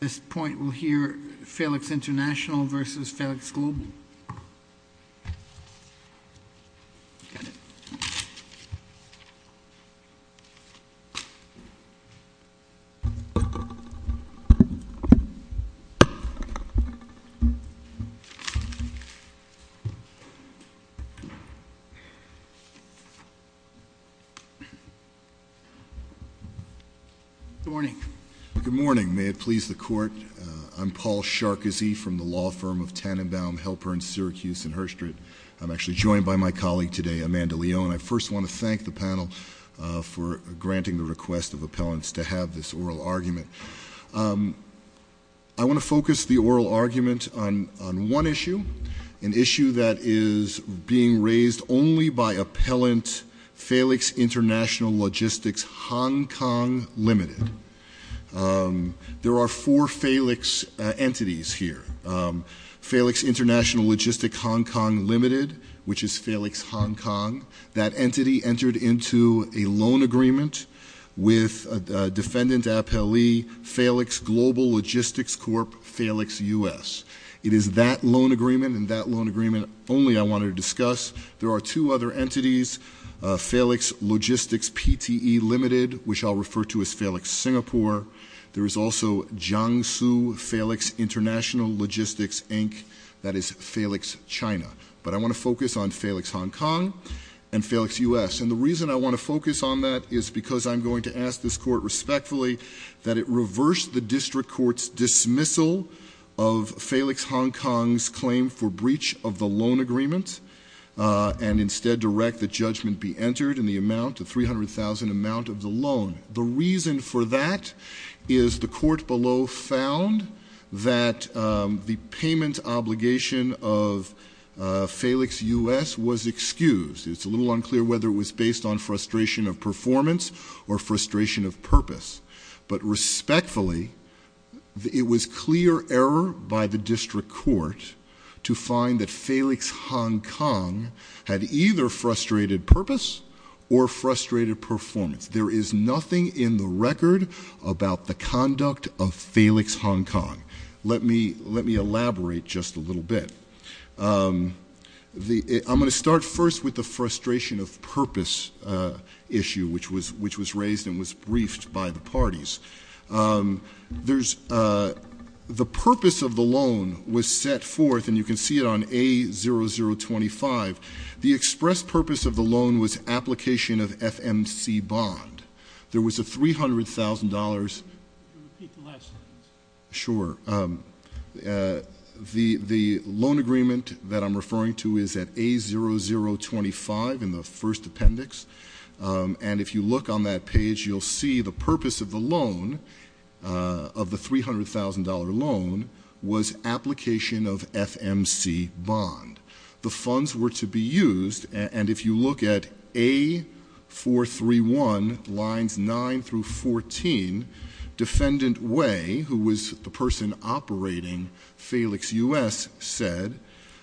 This point will hear Feiliks International versus Feiliks Global. Good morning. Good morning. May it please the court. I'm Paul Sarkozy from the law firm of Tannenbaum Helper in Syracuse and Hurstred. I'm actually joined by my colleague today, Amanda Leone. I first want to thank the panel for granting the request of appellants to have this oral argument. I want to focus the oral argument on one issue, an issue that is being raised only by appellant Feiliks International Logistics Hong Kong Limited. There are four Feiliks entities here. Feiliks International Logistics Hong Kong Limited, which is Feiliks Hong Kong, that entity entered into a loan agreement with defendant appellee Feiliks Global Logistics Corp. Feiliks U.S. It is that loan agreement and that loan agreement only I want to discuss. There are two other entities, Feiliks Logistics PTE Limited, which I'll refer to as Feiliks Singapore. There is also Jiangsu Feiliks International Logistics Inc., that is Feiliks China. But I want to focus on Feiliks Hong Kong and Feiliks U.S. And the reason I want to focus on that is because I'm going to ask this court respectfully that it reverse the district court's dismissal of Feiliks Hong Kong's claim for breach of the loan agreement and instead direct the judgment be entered in the amount of $300,000 amount of the loan. The reason for that is the court below found that the payment obligation of Feiliks U.S. was excused. It's a little unclear whether it was based on frustration of performance or frustration of purpose. But respectfully, it was clear error by the district court to find that Feiliks Hong Kong had either frustrated purpose or frustrated performance. There is nothing in the record about the conduct of Feiliks Hong Kong. Let me elaborate just a little bit. I'm going to start first with the frustration of purpose issue, which was raised and was briefed by the parties. The purpose of the loan was set forth, and you can see it on A0025. The express purpose of the loan was application of FMC bond. There was a $300,000. Repeat the last sentence. Sure. The loan agreement that I'm referring to is at A0025 in the first appendix. And if you look on that page, you'll see the purpose of the loan, of the $300,000 loan, was application of FMC bond. The funds were to be used, and if you look at A431 lines 9 through 14, Defendant Wei, who was the person operating Feiliks U.S., said,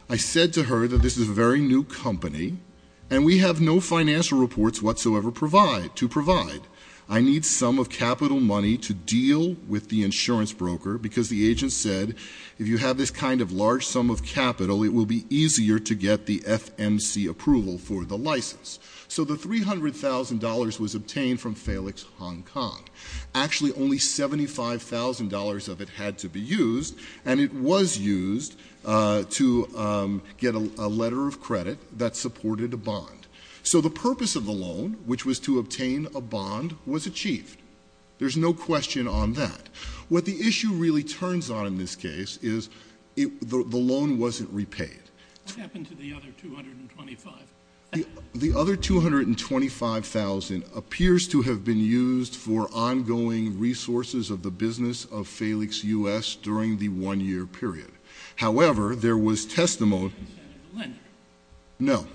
I said to her that this is a very new company, and we have no financial reports whatsoever to provide. I need some of capital money to deal with the insurance broker, because the agent said, if you have this kind of large sum of capital, it will be easier to get the FMC approval for the license. So the $300,000 was obtained from Feiliks Hong Kong. Actually, only $75,000 of it had to be used, and it was used to get a letter of credit that supported a bond. So the purpose of the loan, which was to obtain a bond, was achieved. There's no question on that. What the issue really turns on in this case is the loan wasn't repaid. What happened to the other $225,000? The other $225,000 appears to have been used for ongoing resources of the business of Feiliks U.S. during the one-year period. However, there was testimony- By Senator Linder? No.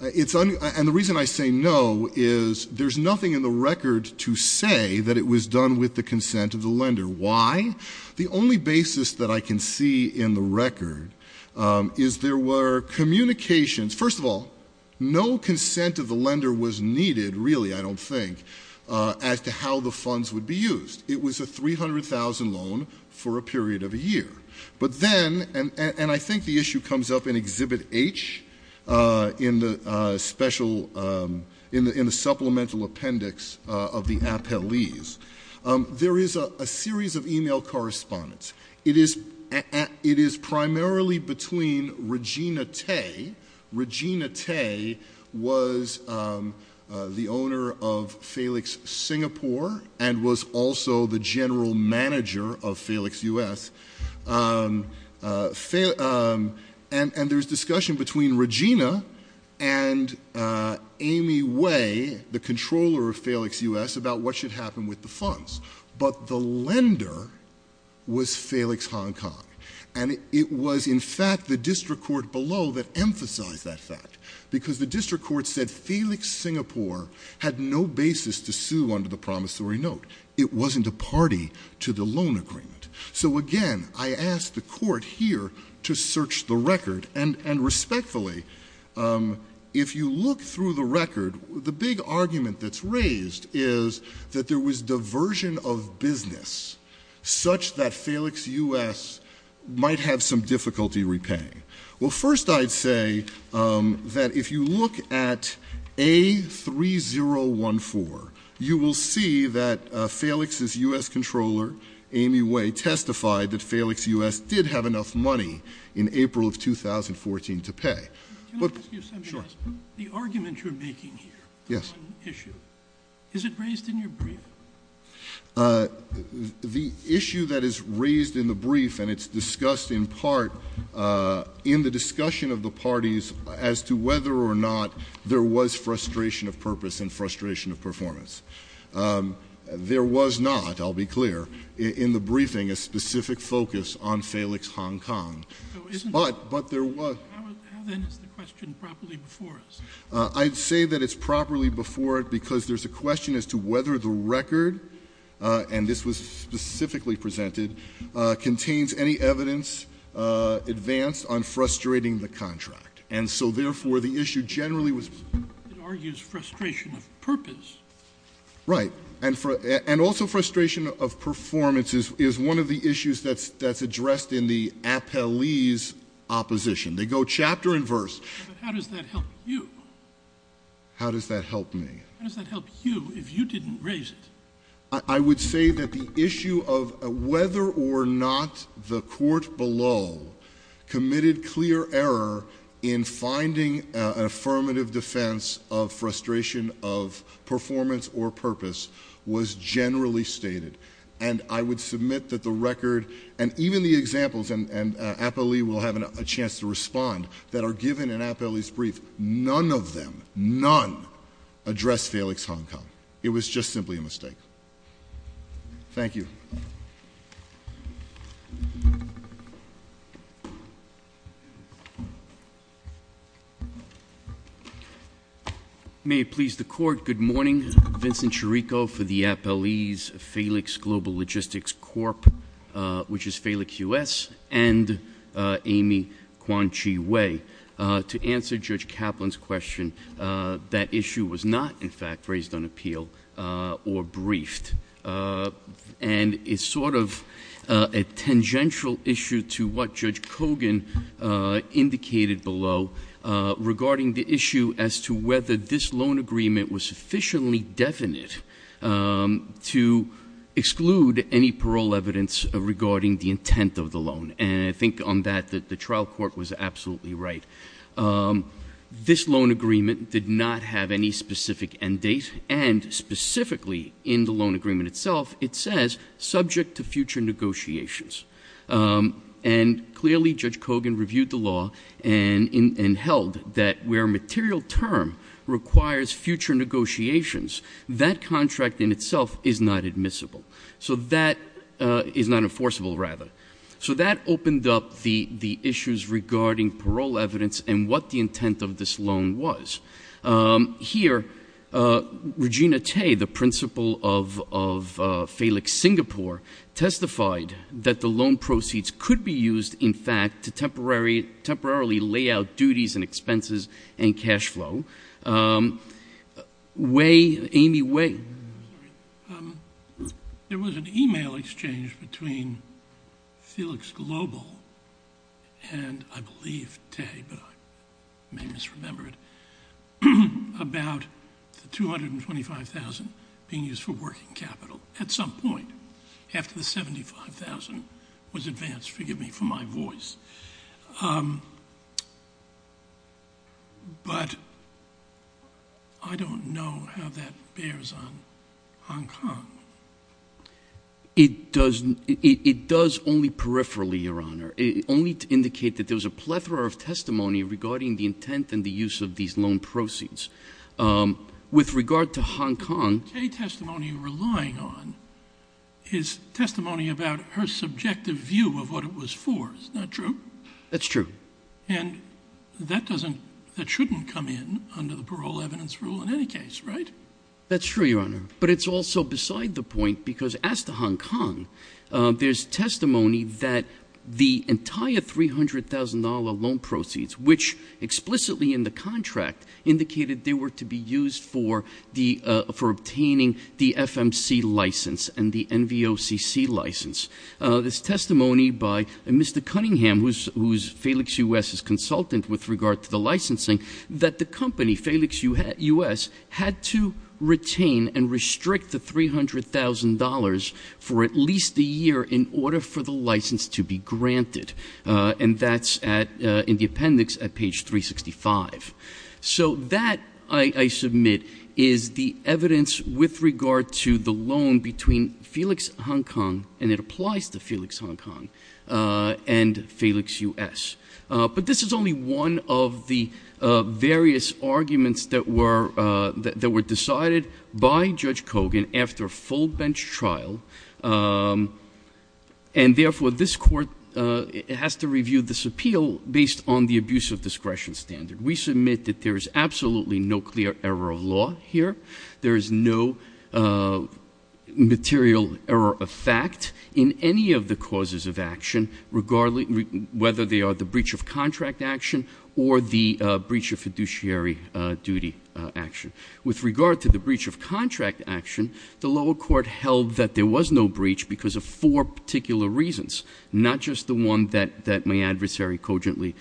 And the reason I say no is there's nothing in the record to say that it was done with the consent of the lender. Why? The only basis that I can see in the record is there were communications. First of all, no consent of the lender was needed, really, I don't think, as to how the funds would be used. It was a $300,000 loan for a period of a year. But then, and I think the issue comes up in Exhibit H, in the supplemental appendix of the appellees, there is a series of e-mail correspondence. It is primarily between Regina Tay. Regina Tay was the owner of Feiliks Singapore and was also the general manager of Feiliks U.S. And there's discussion between Regina and Amy Way, the controller of Feiliks U.S., about what should happen with the funds. But the lender was Feiliks Hong Kong. And it was, in fact, the district court below that emphasized that fact. Because the district court said Feiliks Singapore had no basis to sue under the promissory note. It wasn't a party to the loan agreement. So, again, I ask the court here to search the record. And respectfully, if you look through the record, the big argument that's raised is that there was diversion of business, such that Feiliks U.S. might have some difficulty repaying. Well, first I'd say that if you look at A3014, you will see that Feiliks' U.S. controller, Amy Way, testified that Feiliks U.S. did have enough money in April of 2014 to pay. Can I ask you something else? Sure. The argument you're making here, the loan issue, is it raised in your brief? The issue that is raised in the brief, and it's discussed in part in the discussion of the parties as to whether or not there was frustration of purpose and frustration of performance. There was not, I'll be clear, in the briefing a specific focus on Feiliks Hong Kong. But there was. How then is the question properly before us? I'd say that it's properly before it because there's a question as to whether the record, and this was specifically presented, contains any evidence advanced on frustrating the contract. And so, therefore, the issue generally was. It argues frustration of purpose. Right. And also frustration of performance is one of the issues that's addressed in the appellee's opposition. They go chapter and verse. But how does that help you? How does that help me? How does that help you if you didn't raise it? I would say that the issue of whether or not the court below committed clear error in finding an affirmative defense of frustration of performance or purpose was generally stated. And I would submit that the record and even the examples, and appellee will have a chance to respond, that are given in appellee's brief. None of them, none, address Feiliks Hong Kong. It was just simply a mistake. Thank you. May it please the court. Good morning. Vincent Chirico for the appellee's Feiliks Global Logistics Corp, which is Feiliks U.S., and Amy Quan Chi Wei. To answer Judge Kaplan's question, that issue was not, in fact, raised on appeal or briefed. And it's sort of a tangential issue to what Judge Kogan indicated below, regarding the issue as to whether this loan agreement was sufficiently definite to exclude any parole evidence regarding the intent of the loan. And I think on that, the trial court was absolutely right. This loan agreement did not have any specific end date, and specifically in the loan agreement itself, it says subject to future negotiations. And clearly, Judge Kogan reviewed the law and held that where material term requires future negotiations, that contract in itself is not admissible, is not enforceable, rather. So that opened up the issues regarding parole evidence and what the intent of this loan was. Here, Regina Tay, the principal of Feiliks Singapore, testified that the loan proceeds could be used, in fact, to temporarily lay out duties and expenses and cash flow. Wei, Amy Wei. There was an email exchange between Felix Global and, I believe, Tay, but I may misremember it, about the $225,000 being used for working capital at some point, after the $75,000 was advanced. Forgive me for my voice. But I don't know how that bears on Hong Kong. It does only peripherally, Your Honor. Only to indicate that there was a plethora of testimony regarding the intent and the use of these loan proceeds. With regard to Hong Kong- Tay's testimony relying on is testimony about her subjective view of what it was for. That's not true. That's true. And that doesn't, that shouldn't come in under the parole evidence rule in any case, right? That's true, Your Honor. But it's also beside the point, because as to Hong Kong, there's testimony that the entire $300,000 loan proceeds, which explicitly in the contract indicated they were to be used for obtaining the FMC license and the NVOCC license. This testimony by Mr. Cunningham, who's Felix U.S.'s consultant with regard to the licensing, that the company, Felix U.S., had to retain and restrict the $300,000 for at least a year in order for the license to be granted. And that's in the appendix at page 365. So that, I submit, is the evidence with regard to the loan between Felix Hong Kong and it applies to Felix Hong Kong and Felix U.S. But this is only one of the various arguments that were decided by Judge Kogan after full bench trial. And therefore, this court has to review this appeal based on the abuse of discretion standard. We submit that there is absolutely no clear error of law here. There is no material error of fact in any of the causes of action, whether they are the breach of contract action or the breach of fiduciary duty action. With regard to the breach of contract action, the lower court held that there was no breach because of four particular reasons. Not just the one that my adversary cogently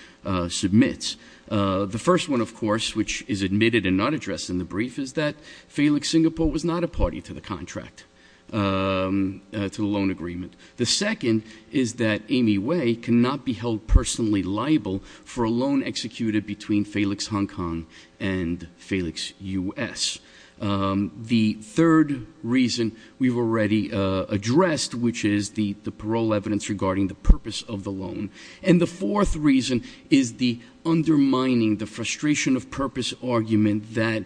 submits. The first one, of course, which is admitted and not addressed in the brief, is that Felix Singapore was not a party to the contract, to the loan agreement. The second is that Amy Way cannot be held personally liable for a loan executed between Felix Hong Kong and Felix U.S. The third reason we've already addressed, which is the parole evidence regarding the purpose of the loan. And the fourth reason is the undermining, the frustration of purpose argument that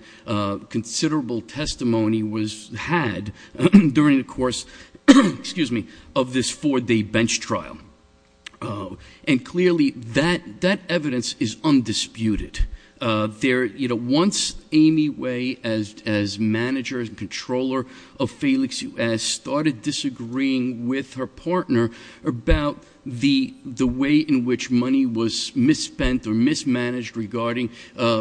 considerable testimony was had during the course of this four day bench trial. And clearly, that evidence is undisputed. Once Amy Way, as manager and controller of Felix U.S., started disagreeing with her partner about the way in which money was misspent or mismanaged regarding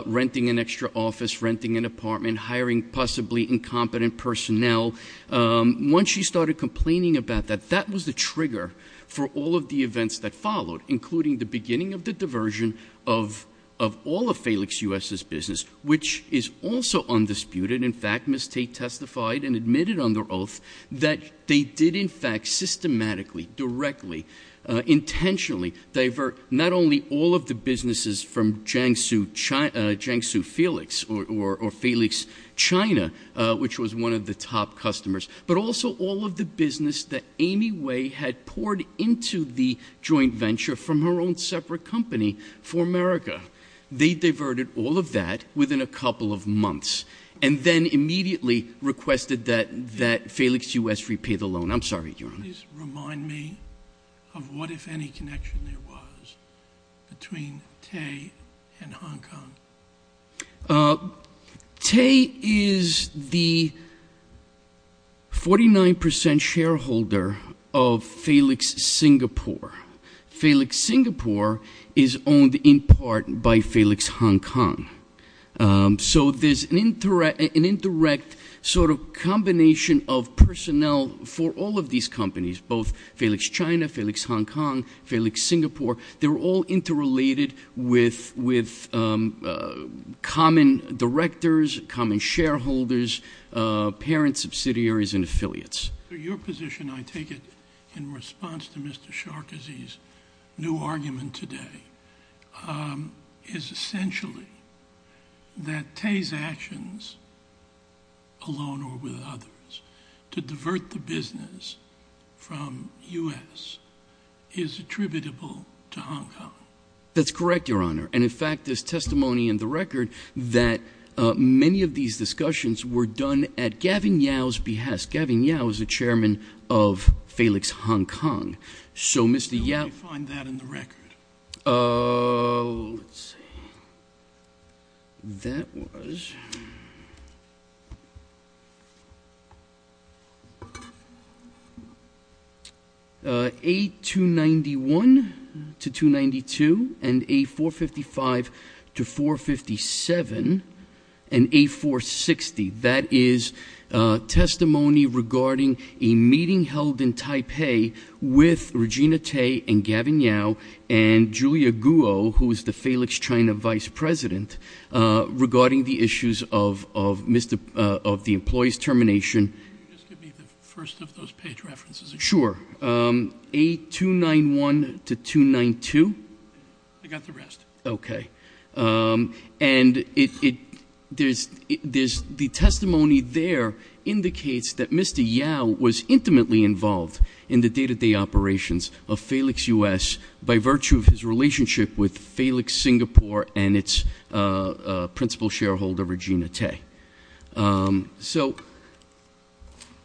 renting an extra office, renting an apartment, hiring possibly incompetent personnel. Once she started complaining about that, that was the trigger for all of the events that followed, including the beginning of the diversion of all of Felix U.S.'s business. Which is also undisputed, in fact, Ms. Tate testified and admitted under oath that they did in fact systematically, directly, intentionally divert not only all of the businesses from Jiangsu Felix or Felix China, which was one of the top customers. But also all of the business that Amy Way had poured into the joint venture from her own separate company for America. They diverted all of that within a couple of months and then immediately requested that Felix U.S. repay the loan. I'm sorry, Your Honor. Please remind me of what, if any, connection there was between Tate and Hong Kong. Tate is the 49% shareholder of Felix Singapore. Felix Singapore is owned in part by Felix Hong Kong. So there's an indirect combination of personnel for all of these companies, both Felix China, Felix Hong Kong, Felix Singapore. They're all interrelated with common directors, common shareholders, parent subsidiaries and affiliates. Your position, I take it in response to Mr. Sarkozy's new argument today, is essentially that Tate's actions alone or with others to divert the business from U.S. is attributable to Hong Kong. That's correct, Your Honor. And in fact, there's testimony in the record that many of these discussions were done at Gavin Yau's behest. Gavin Yau is the chairman of Felix Hong Kong. So Mr. Yau... Let's see. That was... A291 to 292 and A455 to 457 and A460. That is testimony regarding a meeting held in Taipei with Regina Tate and Gavin Yau and Julia Guo, who is the Felix China vice president, regarding the issues of the employee's termination. Just give me the first of those page references again. Sure. A291 to 292. I got the rest. Okay. And the testimony there indicates that Mr. Yau was intimately involved in the day-to-day operations of Felix U.S. by virtue of his relationship with Felix Singapore and its principal shareholder, Regina Tate. So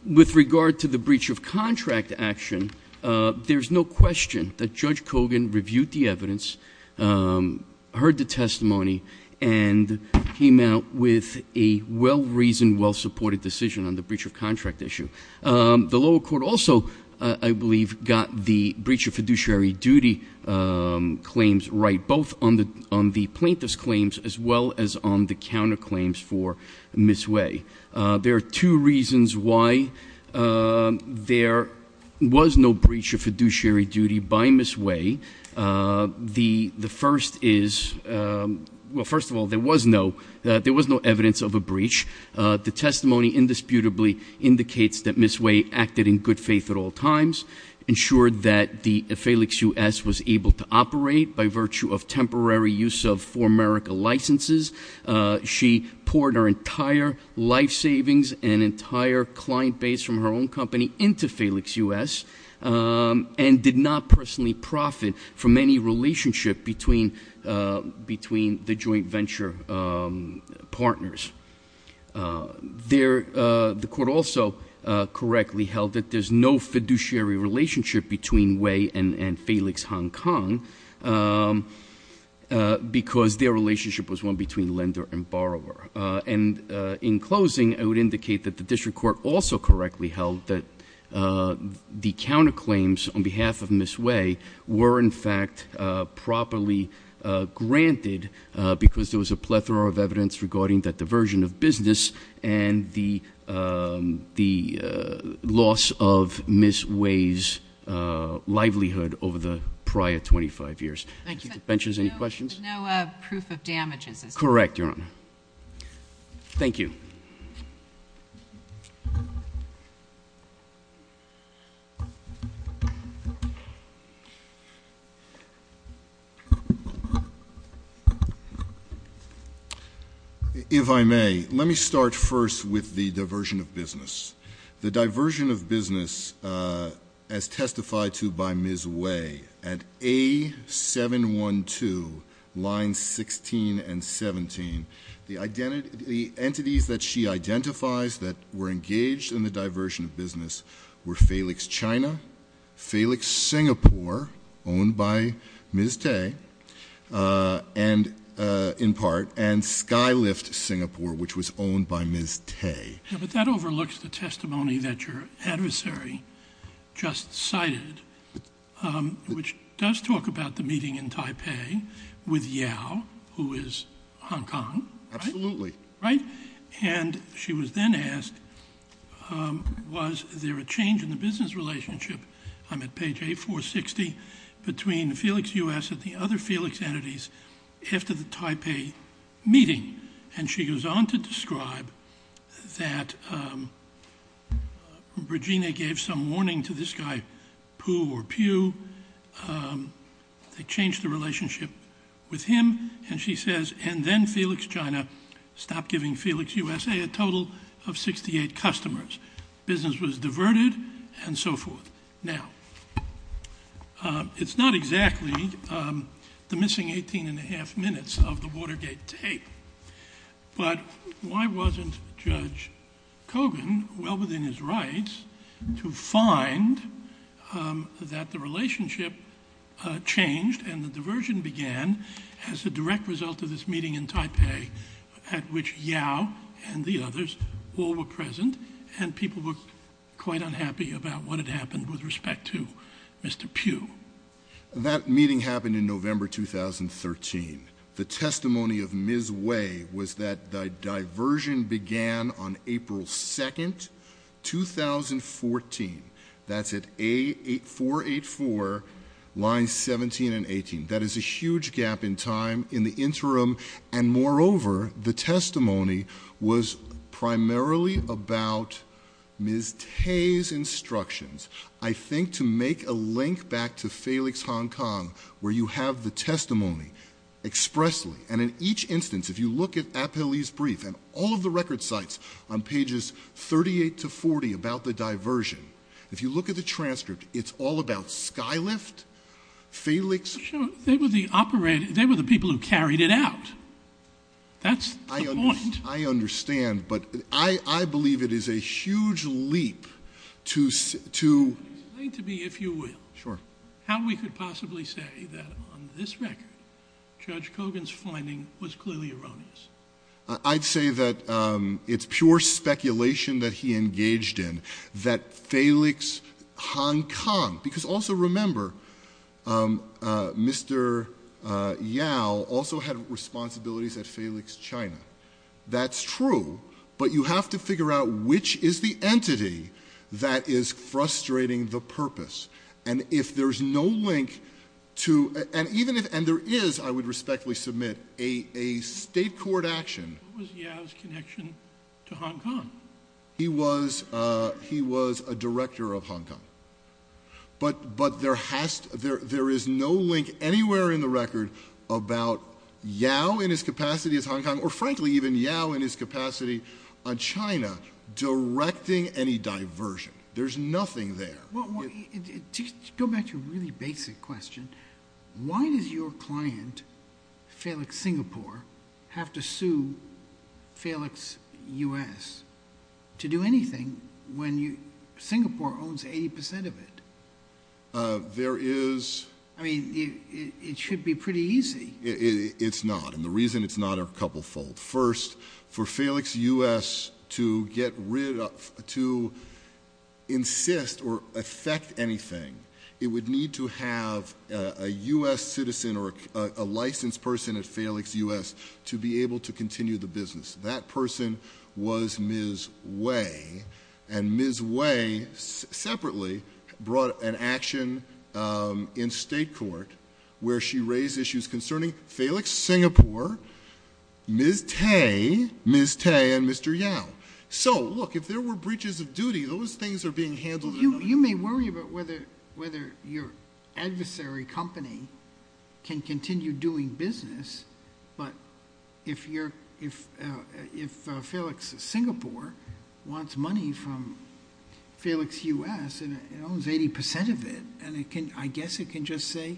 with regard to the breach of contract action, there's no question that Judge Kogan reviewed the evidence, heard the testimony, and came out with a well-reasoned, well-supported decision on the breach of contract issue. The lower court also, I believe, got the breach of fiduciary duty claims right, both on the plaintiff's claims as well as on the counterclaims for Ms. Wei. There are two reasons why there was no breach of fiduciary duty by Ms. Wei. The first is, well, first of all, there was no evidence of a breach. The testimony indisputably indicates that Ms. Wei acted in good faith at all times, ensured that Felix U.S. was able to operate by virtue of temporary use of For America licenses. She poured her entire life savings and entire client base from her own company into Felix U.S. and did not personally profit from any relationship between the joint venture partners. The court also correctly held that there's no fiduciary relationship between Wei and Felix Hong Kong because their relationship was one between lender and lender. The court also correctly held that the counterclaims on behalf of Ms. Wei were in fact properly granted because there was a plethora of evidence regarding that diversion of business and the loss of Ms. Wei's livelihood over the prior 25 years. Thank you. If I may, let me start first with the diversion of business. The diversion of business as testified to by Ms. Wei at A712, lines 16 and 17. The entities that she identifies that were engaged in the diversion of business were Felix China, Felix Singapore, owned by Ms. Tay, in part, and Skylift Singapore, which was owned by Ms. Tay. But that overlooks the testimony that your adversary just cited, which does talk about the meeting in Taipei with Yao, who is Hong Kong. Absolutely. Right? And she was then asked, was there a change in the business relationship, I'm at page 8460, between Felix U.S. and the other Felix entities after the incident that Regina gave some warning to this guy, Pooh or Pew, they changed the relationship with him, and she says, and then Felix China stopped giving Felix U.S.A. a total of 68 customers. Business was diverted and so forth. Now, it's not exactly the missing 18 and a half minutes of the Watergate tape, but why wasn't Judge Kogan well within his rights to find that the relationship changed and the diversion began as a direct result of this meeting in Taipei at which Yao and the others all were present and people were quite unhappy about what had happened with respect to Mr. Pew. That meeting happened in November 2013. The testimony of Ms. Wei was that the diversion began on April 2nd, 2014. That's at A484, lines 17 and 18. That is a huge gap in time in the interim, and moreover, the testimony was primarily about Ms. Tay's instructions. I think to make a link back to Felix Hong Kong, where you have the testimony expressly, and in each instance, if you look at Apelli's brief and all of the record sites on pages 38 to 40 about the diversion, if you look at the transcript, it's all about Skylift, Felix. They were the people who carried it out. That's the point. I understand, but I believe it is a huge leap to... Explain to me, if you will, how we could possibly say that on this record, Judge Kogan's finding was clearly erroneous. I'd say that it's pure speculation that he engaged in that Felix Hong Kong, because also remember Mr. Yao also had responsibilities at Felix China. That's true, but you have to figure out which is the entity that is frustrating the purpose, and if there's no link to... And there is, I would respectfully submit, a state court action. What was Yao's connection to Hong Kong? He was a director of Hong Kong, but there is no link anywhere in the record about Yao in his capacity as Hong Kong, or frankly even Yao in his capacity on China directing any diversion. There's nothing there. Go back to a really basic question. Why does your client, Felix Singapore, have to sue Felix US to do anything when Singapore owns 80% of it? There is... I mean, it should be pretty easy. It's not, and the reason it's not are a couplefold. First, for Felix US to get rid of, to insist or affect anything, it would need to have a US citizen or a licensed person at Felix US to be able to continue the business. That person was Ms. Wei, and Ms. Wei separately brought an action in state court where she raised issues concerning Felix Singapore, Ms. Tay, and Mr. Yao. So, look, if there were breaches of duty, those things are being handled... You may worry about whether your adversary company can continue doing business, but if Felix Singapore wants money from Felix US and owns 80% of it, I guess it can just say,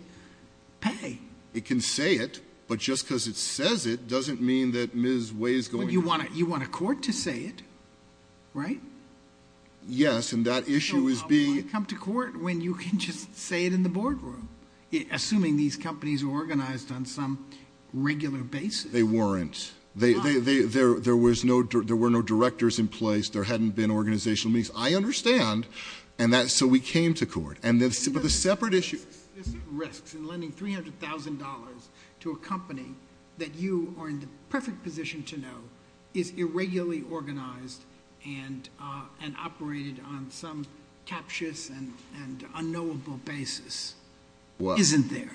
pay. It can say it, but just because it says it doesn't mean that Ms. Wei is going to... You want a court to say it, right? Yes, and that issue is being... Assuming these companies are organized on some regular basis. They weren't. There were no directors in place. There hadn't been organizational meetings. I understand, and so we came to court. There's risks in lending $300,000 to a company that you are in the perfect position to know is irregularly organized and operated on some captious and unknowable basis. Isn't there?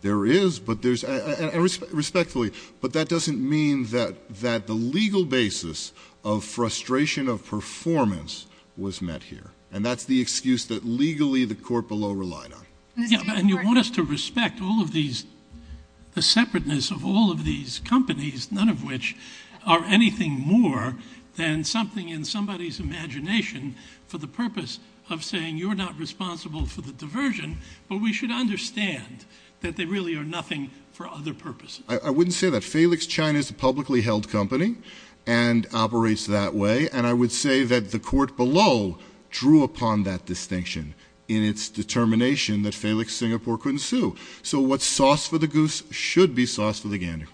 There is, respectfully, but that doesn't mean that the legal basis of frustration of performance was met here, and that's the excuse that legally the court below relied on. And you want us to respect all of these, the separateness of all of these companies, none of which are anything more than something in somebody's imagination for the purpose of saying you're not responsible for the diversion, but we should understand that they really are nothing for other purposes. I wouldn't say that. Phelix China is a publicly held company and operates that way, and I would say that the court below drew upon that distinction in its determination that Phelix Singapore couldn't sue. So what's sauce for the goose should be sauce for the gander.